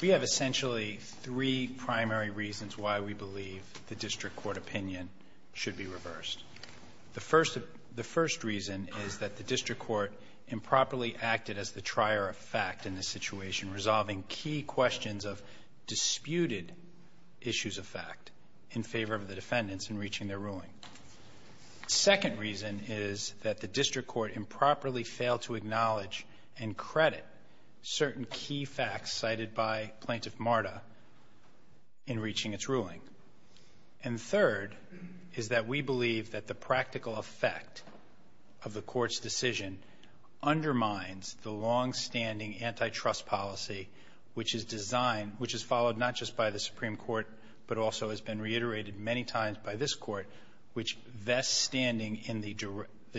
We have essentially three primary reasons why we believe the district court opinion should be reversed. The first reason is that the district court improperly acted as the trier of fact in this situation resolving key questions of disputed issues of fact in favor of the defendants in reaching their ruling. The second reason is that the district court improperly failed to acknowledge and credit certain key facts cited by Plaintiff Marta in reaching its ruling. And third is that we believe that the practical effect of the court's decision undermines the longstanding antitrust policy which is designed, which is followed not just by the plaintiff, which vests standing in the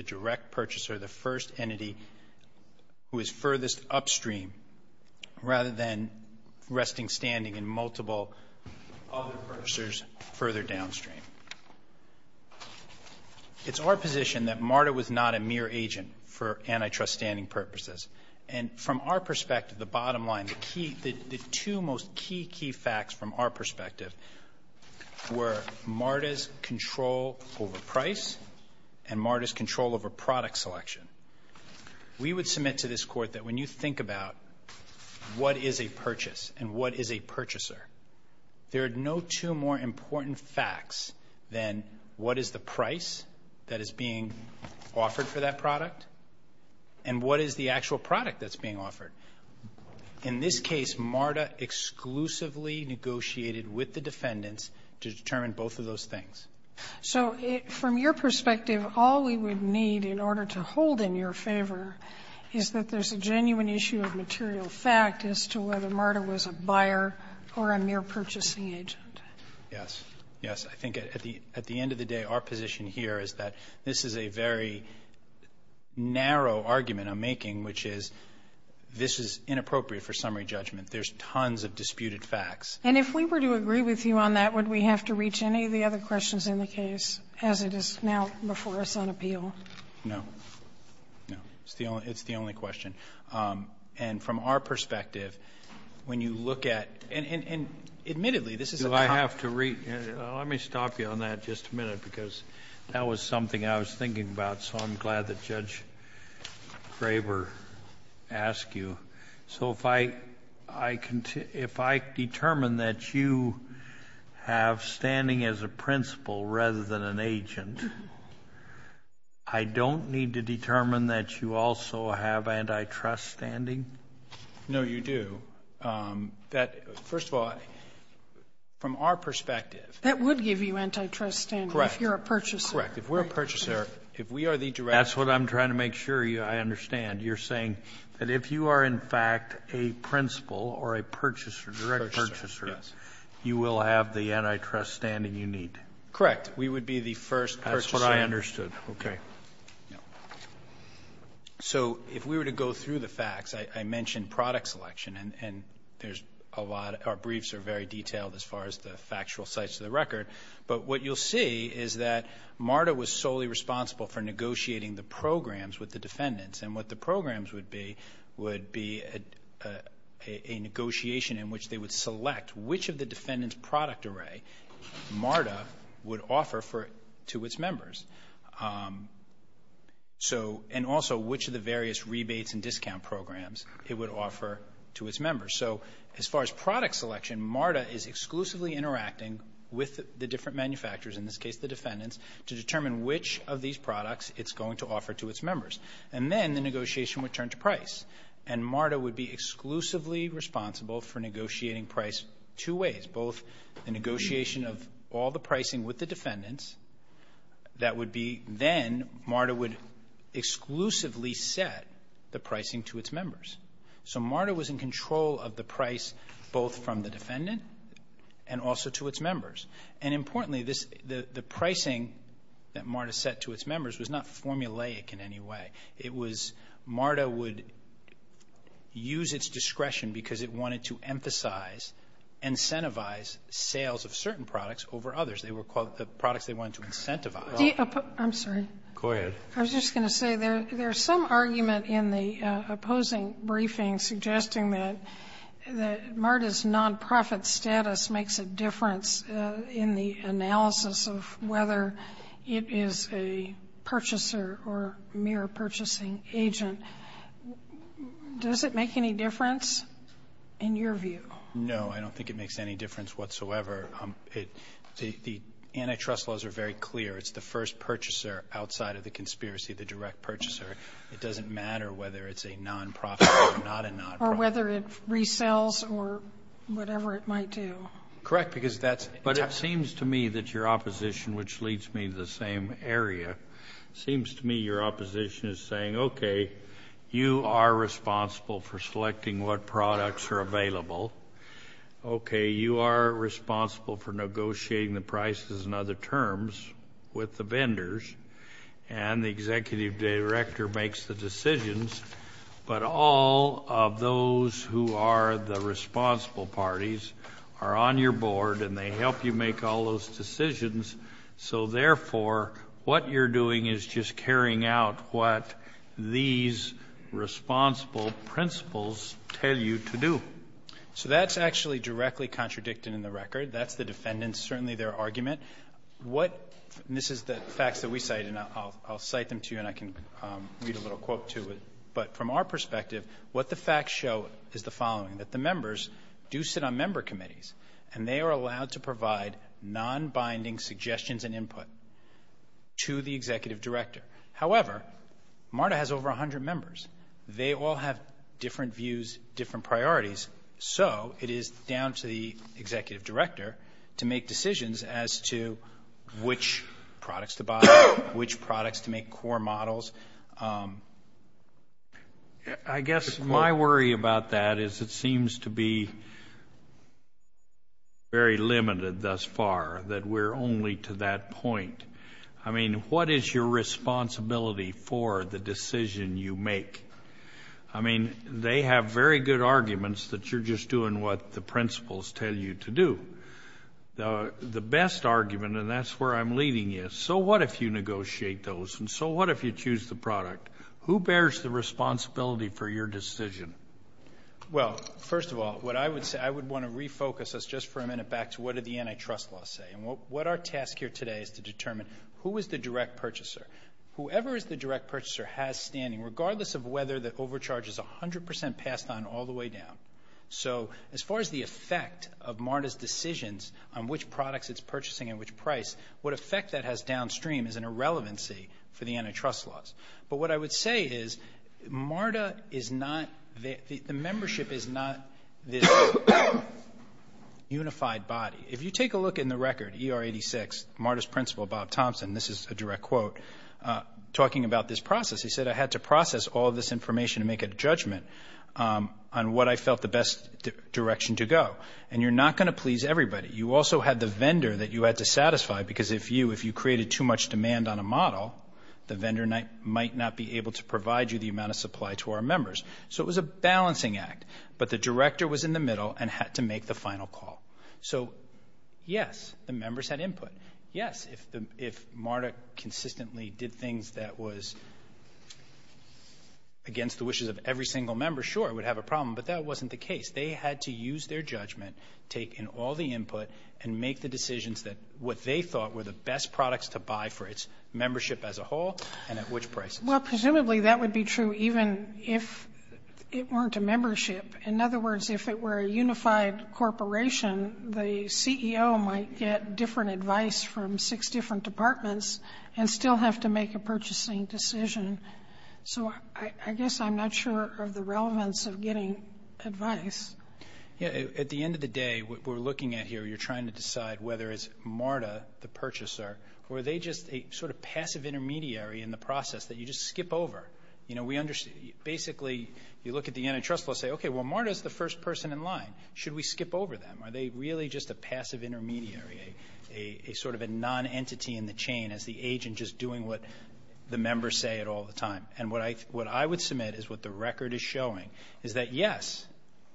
direct purchaser, the first entity who is furthest upstream rather than resting standing in multiple other purchasers further downstream. It's our position that Marta was not a mere agent for antitrust standing purposes. And from our perspective, the bottom line, the key, the two most key, key facts from our perspective were Marta's control over price and Marta's control over product selection. We would submit to this court that when you think about what is a purchase and what is a purchaser, there are no two more important facts than what is the price that is being offered for that product and what is the actual product that's being offered. In this case, Marta exclusively negotiated with the defendants to determine both of those things. So from your perspective, all we would need in order to hold in your favor is that there's a genuine issue of material fact as to whether Marta was a buyer or a mere purchasing agent. Yes. Yes. I think at the end of the day, our position here is that this is a very narrow argument I'm making, which is this is inappropriate for summary judgment. There's tons of disputed facts. And if we were to agree with you on that, would we have to reach any of the other questions in the case, as it is now before us on appeal? No. No. It's the only question. And from our perspective, when you look at and admittedly this is a common Do I have to read? Let me stop you on that just a minute, because that was something I was thinking about, so I'm glad that Judge Graber asked you. So if I determine that you have standing as a principal rather than an agent, I don't need to determine that you also have antitrust standing? No, you do. That, first of all, from our perspective That would give you antitrust standing if you're a purchaser. Correct. If we're a purchaser, if we are the direct That's what I'm trying to make sure I understand. You're saying that if you are, in fact, a principal or a purchaser, direct purchaser, you will have the antitrust standing you need? Correct. We would be the first purchaser. That's what I understood. OK. So if we were to go through the facts, I mentioned product selection. And our briefs are very detailed as far as the factual sites of the record. But what you'll see is that MARTA was solely responsible for negotiating the programs with the defendants. And what the programs would be would be a negotiation in which they would select which of the defendants' product array MARTA would offer to its members. And also which of the various rebates and discount programs it would offer to its members. So as far as product selection, MARTA is exclusively interacting with the different manufacturers, in this case the defendants, to determine which of these products it's going to offer to its members. And then the negotiation would turn to price. And MARTA would be exclusively responsible for negotiating price two ways, both the negotiation of all the pricing with the defendants. That would be then MARTA would exclusively set the pricing to its members. So MARTA was in control of the price both from the defendant and also to its members. And importantly, the pricing that MARTA set to its members was not formulaic in any way. It was MARTA would use its discretion because it wanted to emphasize, incentivize sales of certain products over others. They were called the products they wanted to incentivize. I'm sorry. Go ahead. I was just going to say there's some argument in the opposing briefing suggesting that MARTA's non-profit status makes a difference in the analysis of whether it is a purchaser or mere purchasing agent. Does it make any difference in your view? No, I don't think it makes any difference whatsoever. The antitrust laws are very clear. It's the first purchaser outside of the conspiracy, the direct purchaser. It doesn't matter whether it's a non-profit or not a non-profit. Or whether it resells or whatever it might do. Correct, because that's... But it seems to me that your opposition, which leads me to the same area, seems to me your opposition is saying, okay, you are responsible for selecting what products are available. Okay, you are responsible for negotiating the prices and other terms with the vendors. And the executive director makes the decisions. But all of those who are the responsible parties are on your board and they help you make all those decisions. So therefore, what you're doing is just carrying out what these responsible principles tell you to do. So that's actually directly contradicted in the record. That's the defendant's, certainly their argument. What... This is the facts that we cite and I'll cite them to you and I can read a little quote to it. But from our perspective, what the facts show is the following, that the members do sit on member committees. And they are allowed to provide non-binding suggestions and input to the executive director. However, MARTA has over 100 members. They all have different views, different priorities. So it is down to the executive director to make decisions as to which products to buy, which products to make core models. I guess my worry about that is it seems to be very limited thus far, that we're only to that point. I mean, what is your responsibility for the decision you make? I mean, they have very good arguments that you're just doing what the principles tell you to do. The best argument, and that's where I'm leading you, so what if you negotiate those? And so what if you choose the product? Who bears the responsibility for your decision? Well, first of all, what I would say, I would want to refocus us just for a minute back to what did the antitrust law say? What our task here today is to determine, who is the direct purchaser? Whoever is the direct purchaser has standing, regardless of whether the overcharge is 100% passed on all the way down. So as far as the effect of MARTA's decisions on which products it's purchasing and which price, what effect that has downstream is an irrelevancy for the antitrust laws. But what I would say is, MARTA is not, the membership is not this unified body. If you take a look in the record, ER 86, MARTA's principal, Bob Thompson, this is a direct quote, talking about this process, he said, I had to process all of this information to make a judgment on what I felt the best direction to go. And you're not going to please everybody. You also had the vendor that you had to satisfy, because if you created too much demand on a model, the vendor might not be able to provide you the amount of supply to our members. So it was a balancing act. But the director was in the middle and had to make the final call. So, yes, the members had input. Yes, if MARTA consistently did things that was against the wishes of every single member, sure, it would have a problem. But that wasn't the case. They had to use their judgment, take in all the input, and make the decisions that what they thought were the best products to buy for its membership as a whole and at which prices. Well, presumably, that would be true even if it weren't a membership. In other words, if it were a unified corporation, the CEO might get different advice from six different departments and still have to make a purchasing decision. So I guess I'm not sure of the relevance of getting advice. At the end of the day, what we're looking at here, you're trying to decide whether it's MARTA, the purchaser, or are they just a sort of passive intermediary in the process that you just skip over? You know, we understand. Basically, you look at the antitrust law and say, okay, well, MARTA's the first person in line. Should we skip over them? Are they really just a passive intermediary, a sort of a non-entity in the chain as the agent just doing what the members say it all the time? And what I would submit is what the record is showing is that, yes,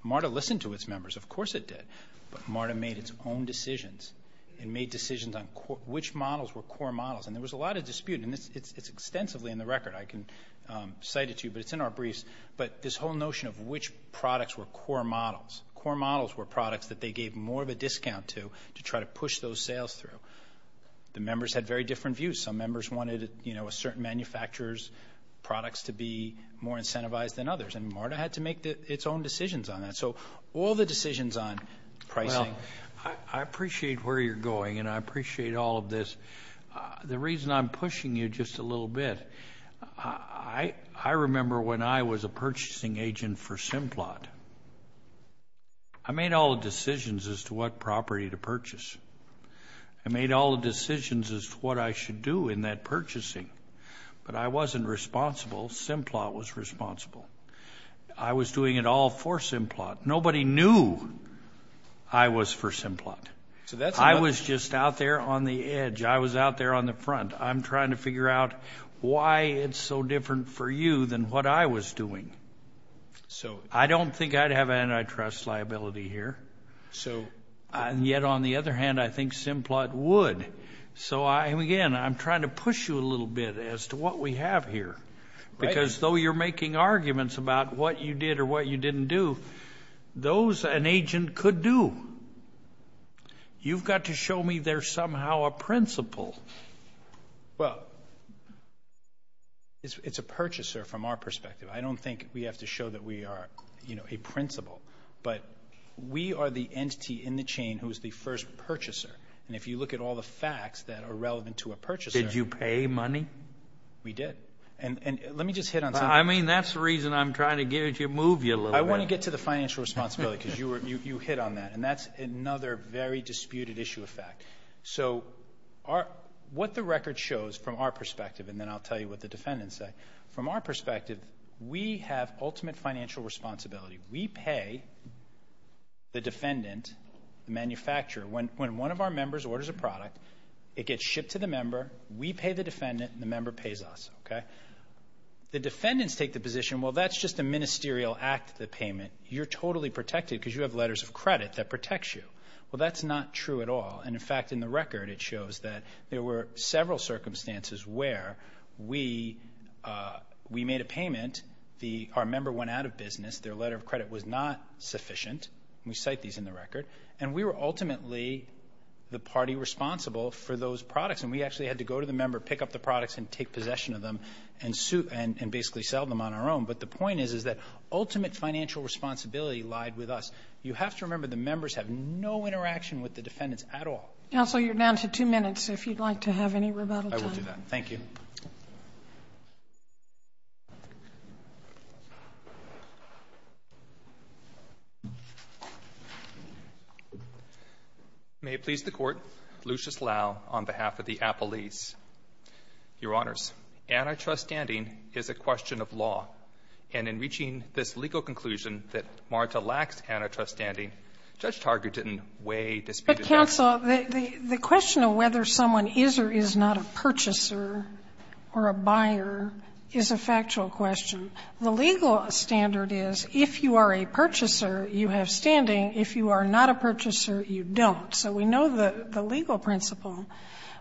MARTA listened to its members. Of course it did. But MARTA made its own decisions and made decisions on which models were core models. And there was a lot of dispute, and it's extensively in the record. I can cite it to you, but it's in our briefs. But this whole notion of which products were core models. Core models were products that they gave more of a discount to, to try to push those sales through. The members had very different views. Some members wanted, you know, a certain manufacturer's products to be more incentivized than others. And MARTA had to make its own decisions on that. So all the decisions on pricing. Well, I appreciate where you're going, and I appreciate all of this. The reason I'm pushing you just a little bit. I remember when I was a purchasing agent for Simplot. I made all the decisions as to what property to purchase. I made all the decisions as to what I should do in that purchasing. But I wasn't responsible, Simplot was responsible. I was doing it all for Simplot. Nobody knew I was for Simplot. I was just out there on the edge. I was out there on the front. I'm trying to figure out why it's so different for you than what I was doing. So I don't think I'd have antitrust liability here. So yet on the other hand, I think Simplot would. So again, I'm trying to push you a little bit as to what we have here. Because though you're making arguments about what you did or what you didn't do, those an agent could do. You've got to show me there's somehow a principle. Well, it's a purchaser from our perspective. I don't think we have to show that we are a principal. But we are the entity in the chain who is the first purchaser. And if you look at all the facts that are relevant to a purchaser. Did you pay money? We did. And let me just hit on something. I mean, that's the reason I'm trying to get you to move you a little bit. I want to get to the financial responsibility, because you hit on that. And that's another very disputed issue of fact. So what the record shows from our perspective, and then I'll tell you what the defendants say. From our perspective, we have ultimate financial responsibility. We pay the defendant, the manufacturer. When one of our members orders a product, it gets shipped to the member. We pay the defendant. And the member pays us. The defendants take the position, well, that's just a ministerial act. You're totally protected because you have letters of credit that protects you. Well, that's not true at all. And in fact, in the record, it shows that there were several circumstances where we made a payment. Our member went out of business. Their letter of credit was not sufficient. We cite these in the record. And we were ultimately the party responsible for those products. And we actually had to go to the member, pick up the products, and take possession of them and basically sell them on our own. But the point is, is that ultimate financial responsibility lied with us. You have to remember, the members have no interaction with the defendants at all. Counsel, you're down to two minutes if you'd like to have any rebuttal time. I will do that. Thank you. May it please the Court, Lucius Lau on behalf of the Appellees. Your Honors, antitrust standing is a question of law. And in reaching this legal conclusion that Marta lacks antitrust standing, Judge Targert didn't weigh this. But, counsel, the question of whether someone is or is not a purchaser or a buyer is a factual question. The legal standard is, if you are a purchaser, you have standing. If you are not a purchaser, you don't. So we know the legal principle.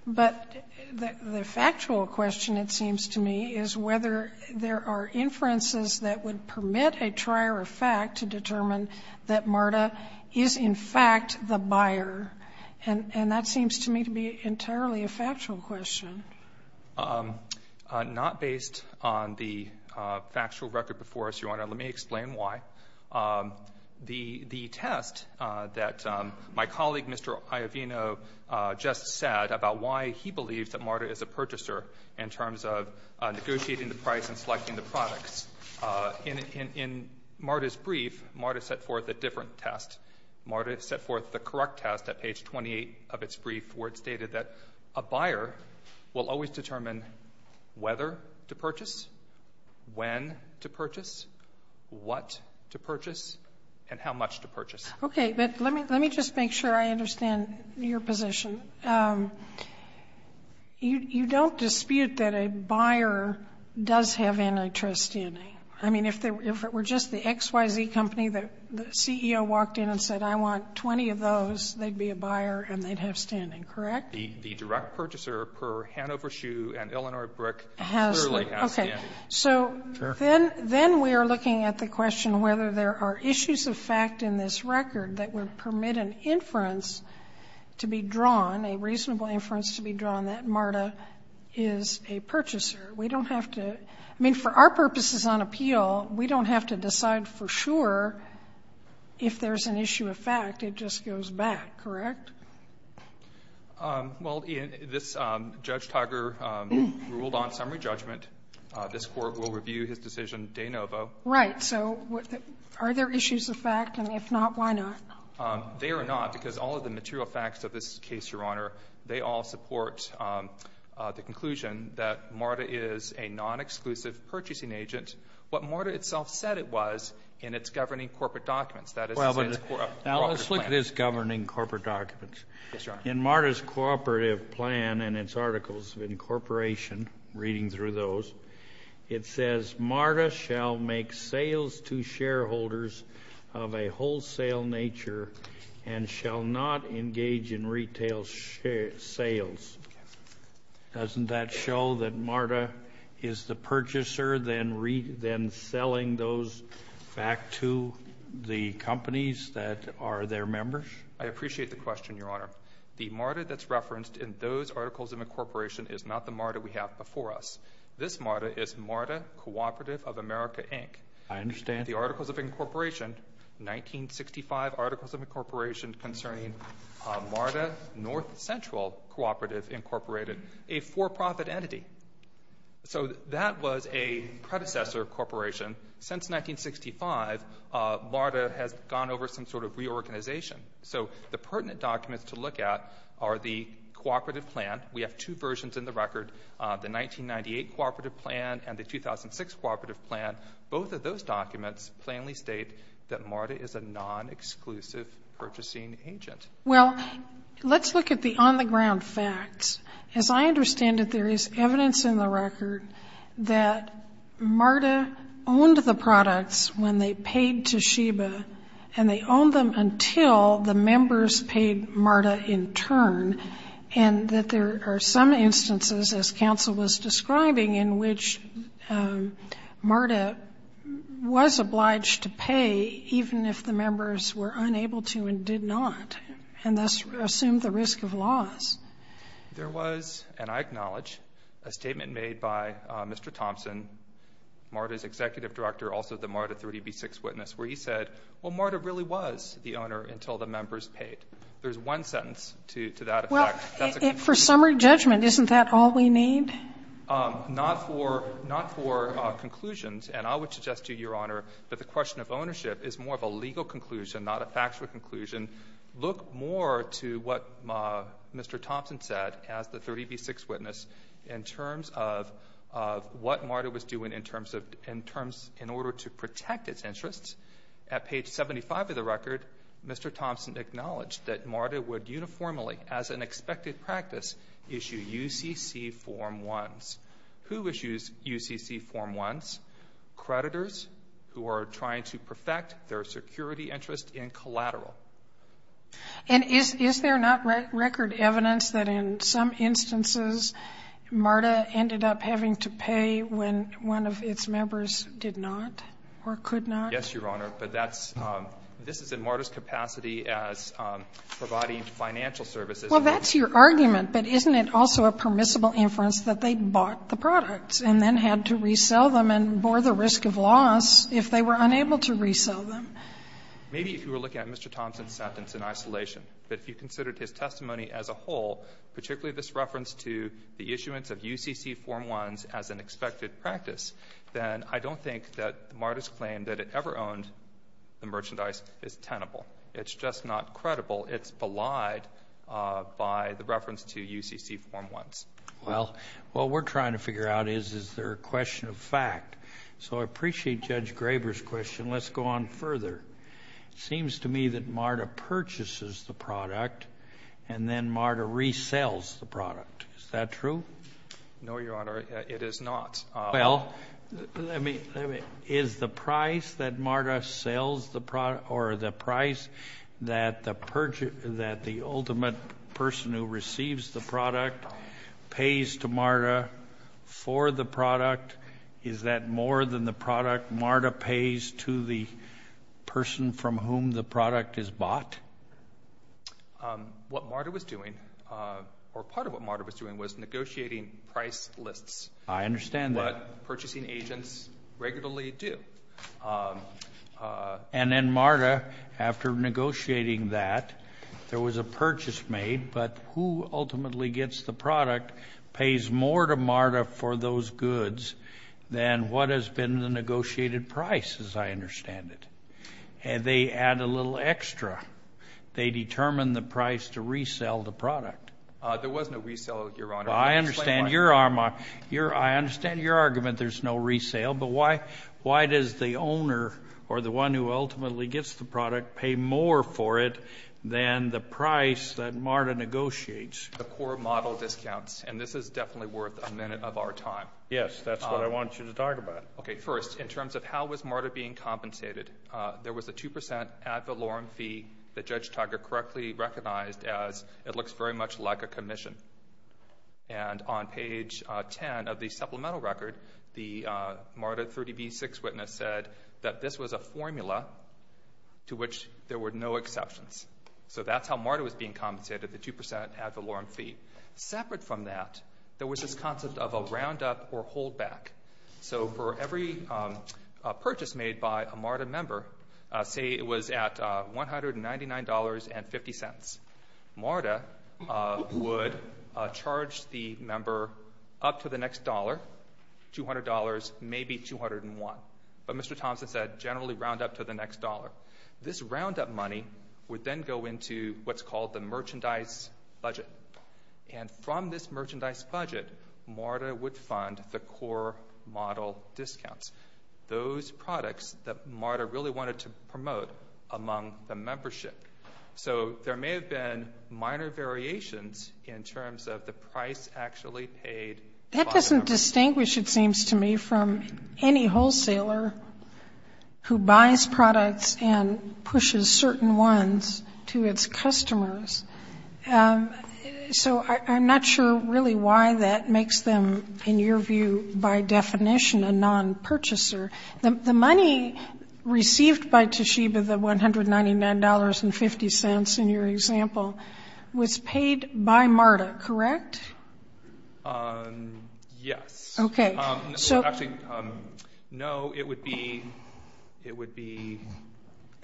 But the factual question, it seems to me, is whether there are inferences that would permit a trier of fact to determine that Marta is, in fact, the buyer. And that seems to me to be entirely a factual question. Not based on the factual record before us, Your Honor. Let me explain why. The test that my colleague, Mr. Iovino, just said about why he believes that Marta is a purchaser in terms of negotiating the price and selecting the products. In Marta's brief, Marta set forth a different test. Marta set forth the correct test at page 28 of its brief, where it stated that a buyer will always determine whether to purchase, when to purchase, what to purchase, and how much to purchase. Okay, but let me just make sure I understand your position. You don't dispute that a buyer does have antitrust standing. I mean, if it were just the XYZ company that the CEO walked in and said, I want 20 of those, they'd be a buyer and they'd have standing, correct? The direct purchaser per Hanover Shoe and Illinois Brick clearly has standing. So then we are looking at the question whether there are issues of fact in this record that would permit an inference to be drawn, a reasonable inference to be drawn, that Marta is a purchaser. We don't have to, I mean, for our purposes on appeal, we don't have to decide for sure if there's an issue of fact. It just goes back, correct? Well, this Judge Tiger ruled on summary judgment. This Court will review his decision de novo. Right, so are there issues of fact? And if not, why not? They are not, because all of the material facts of this case, Your Honor, they all support the conclusion that Marta is a non-exclusive purchasing agent. What Marta itself said it was in its governing corporate documents. That is in its corporate documents. Now, let's look at this governing corporate documents. Yes, Your Honor. In Marta's cooperative plan and its articles of incorporation, reading through those, it says Marta shall make sales to shareholders of a wholesale nature and shall not engage in retail sales. Doesn't that show that Marta is the purchaser then selling those back to the companies that are their members? I appreciate the question, Your Honor. The Marta that's referenced in those articles of incorporation is not the Marta we have before us. This Marta is Marta Cooperative of America, Inc. I understand. The articles of incorporation, 1965 articles of incorporation concerning Marta North Central Cooperative Incorporated, a for-profit entity. So that was a predecessor corporation. Since 1965, Marta has gone over some sort of reorganization. So the pertinent documents to look at are the cooperative plan. We have two versions in the record, the 1998 cooperative plan and the 2006 cooperative plan. Both of those documents plainly state that Marta is a non-exclusive purchasing agent. Well, let's look at the on-the-ground facts. As I understand it, there is evidence in the record that Marta owned the products when they paid to Sheba, and they owned them until the members paid Marta in turn, and that there are some instances, as counsel was describing, in which Marta was obliged to pay even if the members were unable to and did not, and thus assumed the risk of loss. There was, and I acknowledge, a statement made by Mr. Thompson, Marta's executive director, also the Marta 3DB6 witness, where he said, well, Marta really was the owner until the members paid. There's one sentence to that effect. Well, for summary judgment, isn't that all we need? Not for conclusions. And I would suggest to you, Your Honor, that the question of ownership is more of a legal conclusion, not a factual conclusion. Look more to what Mr. Thompson said as the 3DB6 witness in terms of what Marta was doing in order to protect its interests. At page 75 of the record, Mr. Thompson acknowledged that Marta would uniformly, as an expected practice, issue UCC Form 1s. Who issues UCC Form 1s? Creditors who are trying to perfect their security interest in collateral. And is there not record evidence that in some instances Marta ended up having to pay when one of its members did not or could not? Yes, Your Honor, but that's, this is in Marta's capacity as providing financial services. Well, that's your argument, but isn't it also a permissible inference that they bought the products and then had to resell them and bore the risk of loss if they were unable to resell them? Maybe if you were looking at Mr. Thompson's sentence in isolation, but if you considered his testimony as a whole, particularly this reference to the issuance of UCC Form 1s as an expected practice, then I don't think that Marta's claim that it ever owned the merchandise is tenable. It's just not credible. It's belied by the reference to UCC Form 1s. Well, what we're trying to figure out is, is there a question of fact? So I appreciate Judge Graber's question. Let's go on further. Seems to me that Marta purchases the product and then Marta resells the product. Is that true? No, Your Honor, it is not. Well, let me, is the price that Marta sells the product or the price that the ultimate person who receives the product pays to Marta for the product, is that more than the product Marta pays to the person from whom the product is bought? What Marta was doing, or part of what Marta was doing, was negotiating price lists. I understand that. What purchasing agents regularly do. And then Marta, after negotiating that, there was a purchase made, but who ultimately gets the product, pays more to Marta for those goods than what has been the negotiated price, as I understand it. And they add a little extra. They determine the price to resell the product. There was no resale, Your Honor. I understand your argument there's no resale, but why does the owner, or the one who ultimately gets the product, pay more for it than the price that Marta negotiates? The core model discounts, and this is definitely worth a minute of our time. Yes, that's what I want you to talk about. Okay, first, in terms of how was Marta being compensated, there was a 2% ad valorem fee that Judge Tucker correctly recognized as, it looks very much like a commission. And on page 10 of the supplemental record, the Marta 30B6 witness said that this was a formula to which there were no exceptions. So that's how Marta was being compensated, the 2% ad valorem fee. Separate from that, there was this concept of a round up or hold back. So for every purchase made by a Marta member, say it was at $199.50. Marta would charge the member up to the next dollar, $200, maybe 201. But Mr. Thompson said generally round up to the next dollar. This round up money would then go into what's called the merchandise budget. And from this merchandise budget, Marta would fund the core model discounts. Those products that Marta really wanted to promote among the membership. So there may have been minor variations in terms of the price actually paid. That doesn't distinguish, it seems to me, from any wholesaler who buys products and pushes certain ones to its customers. So I'm not sure really why that makes them, in your view, by definition a non-purchaser. The money received by Toshiba, the $199.50 in your example, was paid by Marta, correct? Yes. Okay. So actually, no, it would be-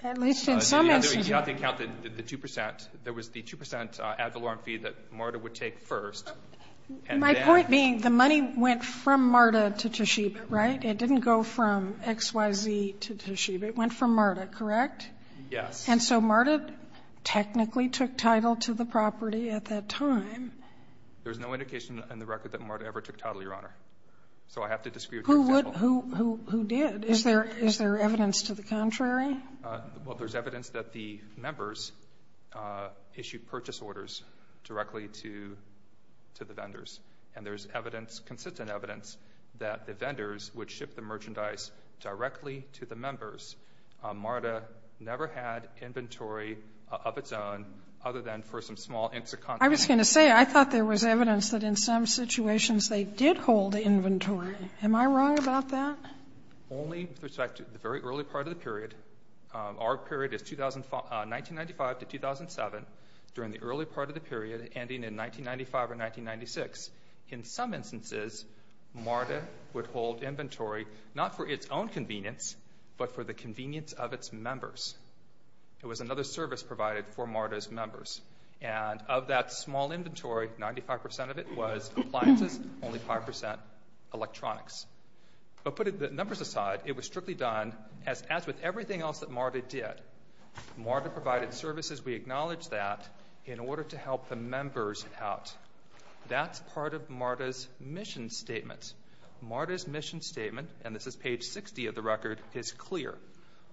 At least in some instances. It would be on the account that the 2%, there was the 2% ad valorem fee that Marta would take first. My point being, the money went from Marta to Toshiba, right? It didn't go from XYZ to Toshiba, it went from Marta, correct? Yes. And so Marta technically took title to the property at that time. There's no indication in the record that Marta ever took title, Your Honor. So I have to disagree with your- Who did? Is there evidence to the contrary? Well, there's evidence that the members issued purchase orders directly to the vendors. And there's evidence, consistent evidence, that the vendors would ship the merchandise directly to the members. Marta never had inventory of its own other than for some small inks of contact. I was going to say, I thought there was evidence that in some situations they did hold inventory. Am I wrong about that? Only with respect to the very early part of the period. Our period is 1995 to 2007. During the early part of the period, ending in 1995 or 1996. In some instances, Marta would hold inventory, not for its own convenience, but for the convenience of its members. It was another service provided for Marta's members. And of that small inventory, 95% of it was appliances, only 5% electronics. But putting the numbers aside, it was strictly done as with everything else that Marta did. Marta provided services, we acknowledge that, in order to help the members out. That's part of Marta's mission statement. Marta's mission statement, and this is page 60 of the record, is clear.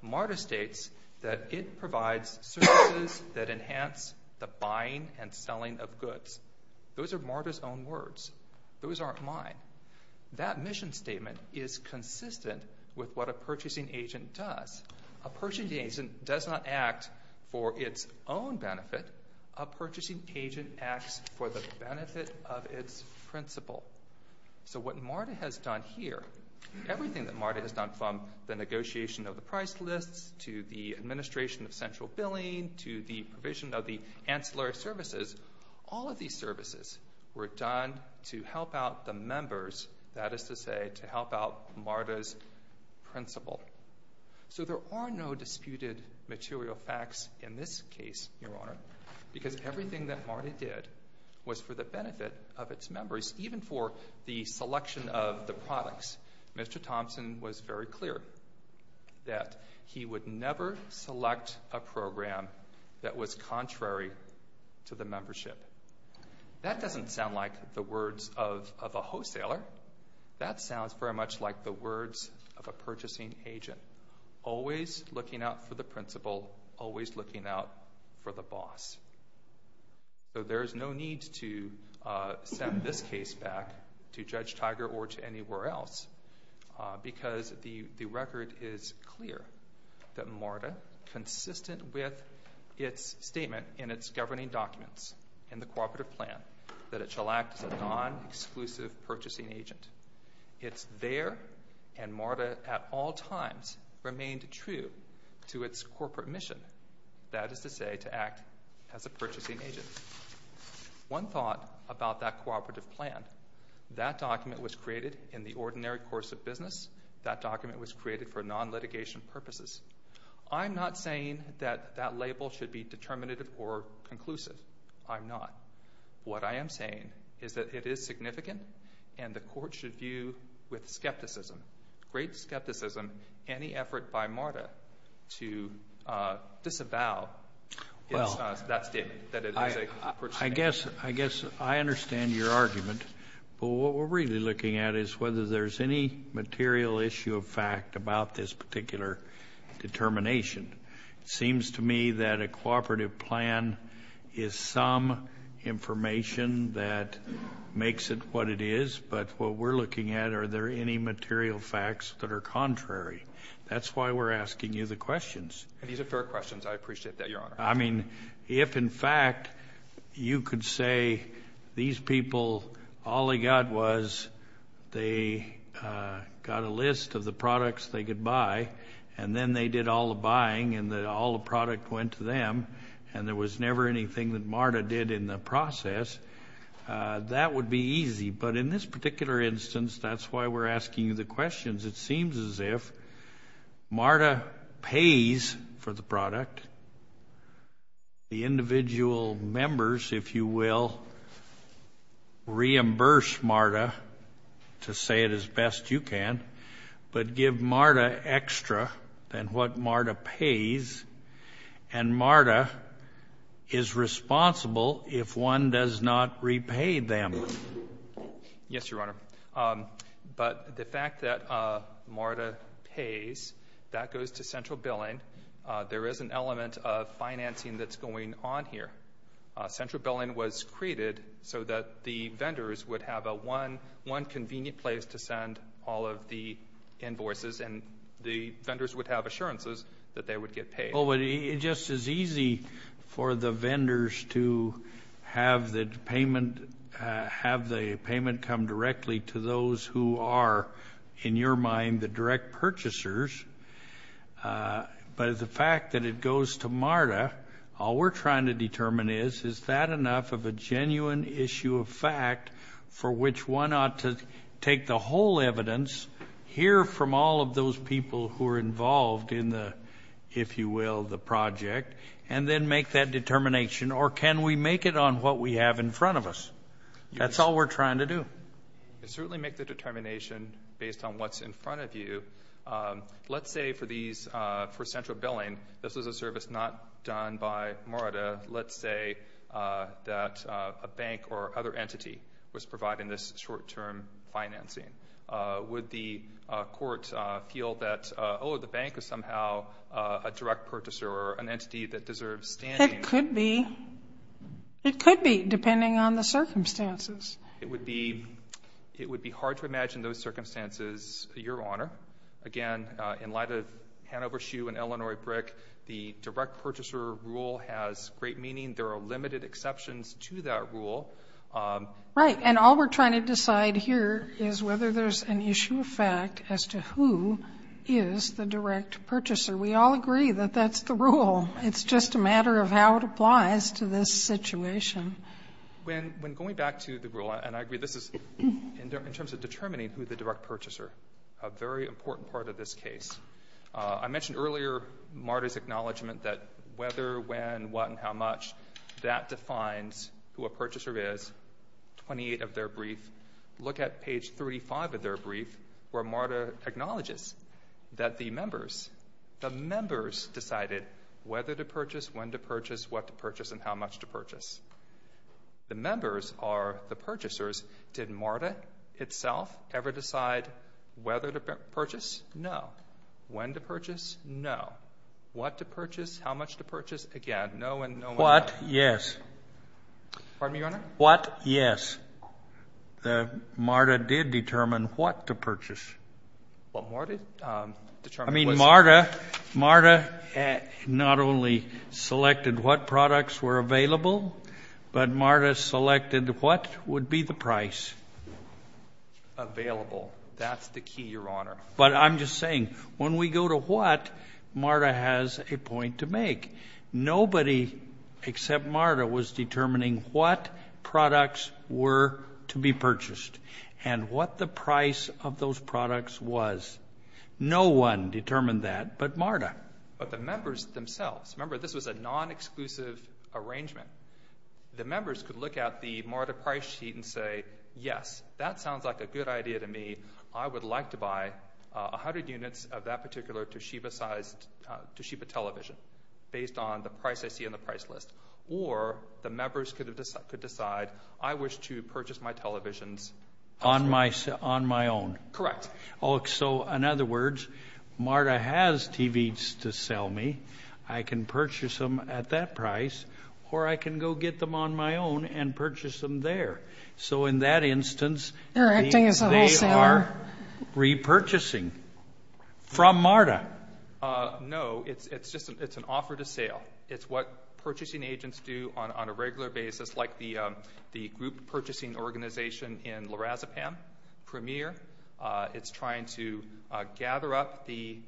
Marta states that it provides services that enhance the buying and selling of goods. Those are Marta's own words. Those aren't mine. That mission statement is consistent with what a purchasing agent does. A purchasing agent does not act for its own benefit. A purchasing agent acts for the benefit of its principal. So what Marta has done here, everything that Marta has done from the negotiation of the price lists, to the administration of central billing, to the provision of the ancillary services, all of these services were done to help out the members, that is to say, to help out Marta's principal. So there are no disputed material facts in this case, Your Honor, because everything that Marta did was for the benefit of its members, even for the selection of the products. Mr. Thompson was very clear that he would never select a program that was contrary to the membership. That doesn't sound like the words of a wholesaler. That sounds very much like the words of a purchasing agent. Always looking out for the principal, always looking out for the boss. So there's no need to send this case back to Judge Tiger or to anywhere else because the record is clear. That Marta, consistent with its statement in its governing documents, in the cooperative plan, that it shall act as a non-exclusive purchasing agent. It's there and Marta at all times remained true to its corporate mission. That is to say, to act as a purchasing agent. One thought about that cooperative plan. That document was created in the ordinary course of business. That document was created for non-litigation purposes. I'm not saying that that label should be determinative or conclusive. I'm not. What I am saying is that it is significant and the court should view with skepticism, great skepticism, any effort by Marta to disavow that statement, that it is a purchasing agent. I guess I understand your argument. But what we're really looking at is whether there's any material issue of fact about this particular determination. It seems to me that a cooperative plan is some information that makes it what it is. But what we're looking at, are there any material facts that are contrary? That's why we're asking you the questions. These are fair questions. I appreciate that, Your Honor. I mean, if in fact you could say these people, all they got was they got a list of the products they could buy. And then they did all the buying and all the product went to them. And there was never anything that Marta did in the process. That would be easy. But in this particular instance, that's why we're asking you the questions. It seems as if Marta pays for the product. The individual members, if you will, reimburse Marta to say it as best you can. But give Marta extra than what Marta pays. And Marta is responsible if one does not repay them. Yes, Your Honor. But the fact that Marta pays, that goes to central billing. There is an element of financing that's going on here. Central billing was created so that the vendors would have one convenient place to send all of the invoices. And the vendors would have assurances that they would get paid. Well, it just is easy for the vendors to have the payment come directly to those who are, in your mind, the direct purchasers. But the fact that it goes to Marta, all we're trying to determine is, is that enough of a genuine issue of fact for which one ought to take the whole evidence, hear from all of those people who are involved in the, if you will, the project, and then make that determination. Or can we make it on what we have in front of us? That's all we're trying to do. And certainly make the determination based on what's in front of you. Let's say for these, for central billing, this was a service not done by Marta. Let's say that a bank or other entity was providing this short-term financing. Would the court feel that, oh, the bank is somehow a direct purchaser or an entity that deserves standing? It could be. It could be, depending on the circumstances. It would be hard to imagine those circumstances, Your Honor. Again, in light of Hanover Shoe and Illinois Brick, the direct purchaser rule has great meaning. There are limited exceptions to that rule. Right. And all we're trying to decide here is whether there's an issue of fact as to who is the direct purchaser. We all agree that that's the rule. It's just a matter of how it applies to this situation. When going back to the rule, and I agree, this is in terms of determining who the direct purchaser. A very important part of this case. I mentioned earlier Marta's acknowledgment that whether, when, what, and how much, that defines who a purchaser is, 28 of their brief. Look at page 35 of their brief where Marta acknowledges that the members, the members decided whether to purchase, when to purchase, what to purchase, and how much to purchase. The members are the purchasers. Did Marta itself ever decide whether to purchase? No. When to purchase? No. What to purchase? How much to purchase? Again, no and no and no. What? Yes. Pardon me, Your Honor? What? Yes. Marta did determine what to purchase. What Marta determined was? Marta, Marta not only selected what products were available, but Marta selected what would be the price. Available, that's the key, Your Honor. But I'm just saying, when we go to what, Marta has a point to make. Nobody except Marta was determining what products were to be purchased and what the price of those products was. No one determined that but Marta. But the members themselves. Remember, this was a non-exclusive arrangement. The members could look at the Marta price sheet and say, yes, that sounds like a good idea to me. I would like to buy 100 units of that particular Toshiba sized, Toshiba television based on the price I see on the price list. Or the members could decide, I wish to purchase my televisions. On my own. Correct. So in other words, Marta has TVs to sell me. I can purchase them at that price, or I can go get them on my own and purchase them there. So in that instance, they are repurchasing from Marta. No, it's an offer to sale. It's what purchasing agents do on a regular basis, like the group purchasing organization in Larazepam, Premier. It's trying to gather up the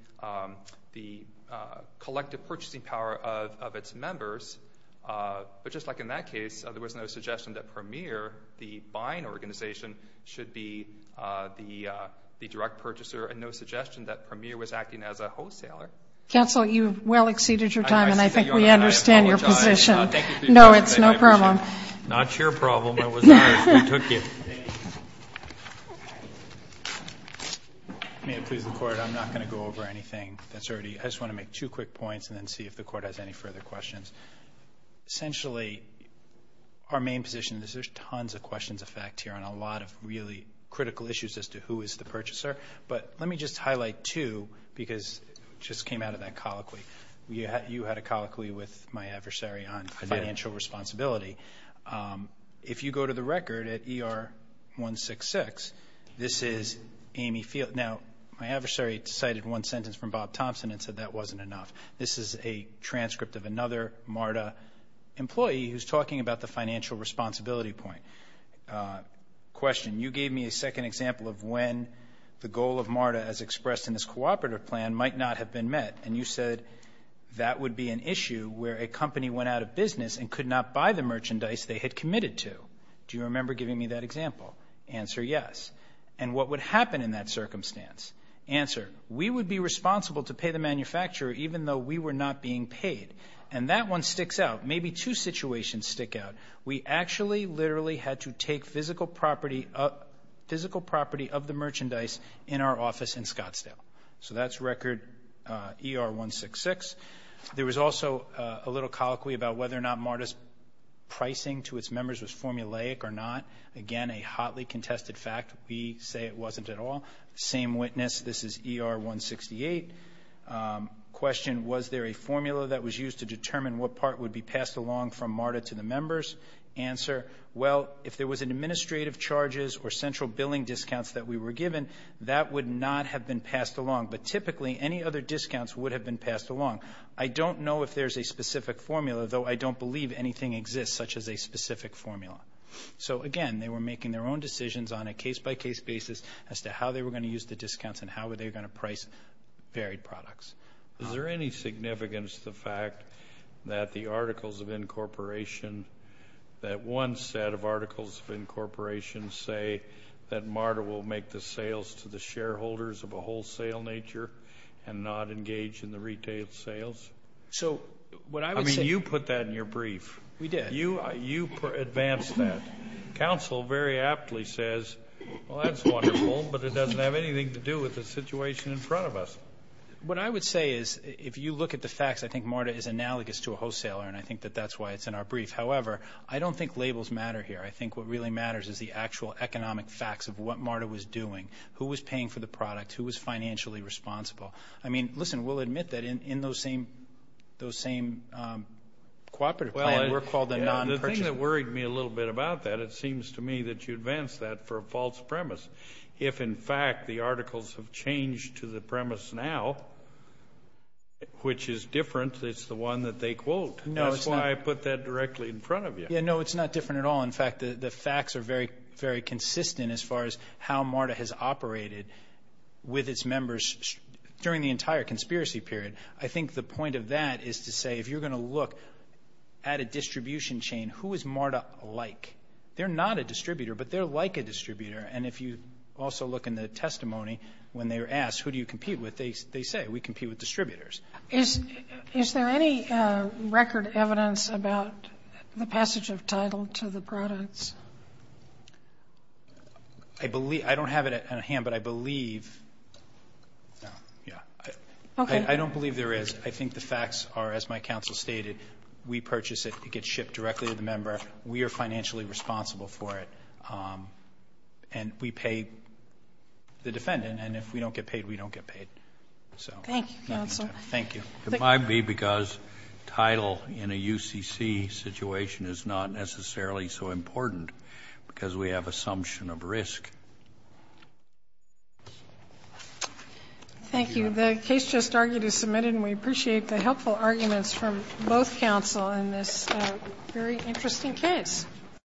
collective purchasing power of its members. But just like in that case, there was no suggestion that Premier, the buying organization, should be the direct purchaser. And no suggestion that Premier was acting as a wholesaler. Counsel, you've well exceeded your time and I think we understand your position. No, it's no problem. Not your problem. It was ours. We took it. May it please the court, I'm not going to go over anything that's already. I just want to make two quick points and then see if the court has any further questions. Essentially, our main position is there's tons of questions of fact here on a lot of really critical issues as to who is the purchaser. But let me just highlight two, because it just came out of that colloquy. You had a colloquy with my adversary on financial responsibility. If you go to the record at ER 166, this is Amy Field. Now, my adversary cited one sentence from Bob Thompson and said that wasn't enough. This is a transcript of another MARTA employee who's talking about the financial responsibility point. Question, you gave me a second example of when the goal of MARTA as expressed in this cooperative plan might not have been met. And you said that would be an issue where a company went out of business and could not buy the merchandise they had committed to. Do you remember giving me that example? Answer, yes. And what would happen in that circumstance? Answer, we would be responsible to pay the manufacturer even though we were not being paid. And that one sticks out. Maybe two situations stick out. We actually literally had to take physical property of the merchandise in our office in Scottsdale. So that's record ER 166. There was also a little colloquy about whether or not MARTA's pricing to its members was formulaic or not. Again, a hotly contested fact. We say it wasn't at all. Same witness. This is ER 168. Question, was there a formula that was used to determine what part would be passed along from MARTA to the members? Answer, well, if there was an administrative charges or central billing discounts that we were given, that would not have been passed along. But typically, any other discounts would have been passed along. I don't know if there's a specific formula, though I don't believe anything exists such as a specific formula. So again, they were making their own decisions on a case-by-case basis as to how they were going to use the discounts and how they were going to price varied products. Is there any significance to the fact that the articles of incorporation, that one set of articles of incorporation say that MARTA will make the sales to the shareholders of a wholesale nature and not engage in the retail sales? So, what I would say- I mean, you put that in your brief. We did. You advanced that. Council very aptly says, well, that's wonderful, but it doesn't have anything to do with the situation in front of us. What I would say is, if you look at the facts, I think MARTA is analogous to a wholesaler, and I think that that's why it's in our brief. However, I don't think labels matter here. I think what really matters is the actual economic facts of what MARTA was doing, who was paying for the product, who was financially responsible. I mean, listen, we'll admit that in those same cooperative plan, we're called a non-purchaser. The thing that worried me a little bit about that, it seems to me that you advanced that for a false premise. If, in fact, the articles have changed to the premise now, which is different, it's the one that they quote. That's why I put that directly in front of you. Yeah, no, it's not different at all. In fact, the facts are very, very consistent as far as how MARTA has operated with its members during the entire conspiracy period. I think the point of that is to say, if you're going to look at a distribution chain, who is MARTA like? They're not a distributor, but they're like a distributor. And if you also look in the testimony, when they were asked, who do you compete with? They say, we compete with distributors. Is there any record evidence about the passage of title to the products? I believe, I don't have it on hand, but I believe, yeah, I don't believe there is. I think the facts are, as my counsel stated, we purchase it, it gets shipped directly to the member, we are financially responsible for it. And we pay the defendant, and if we don't get paid, we don't get paid, so. Thank you, counsel. Thank you. It might be because title in a UCC situation is not necessarily so important, because we have assumption of risk. Thank you, the case just argued is submitted, and we appreciate the helpful arguments from both counsel in this very interesting case.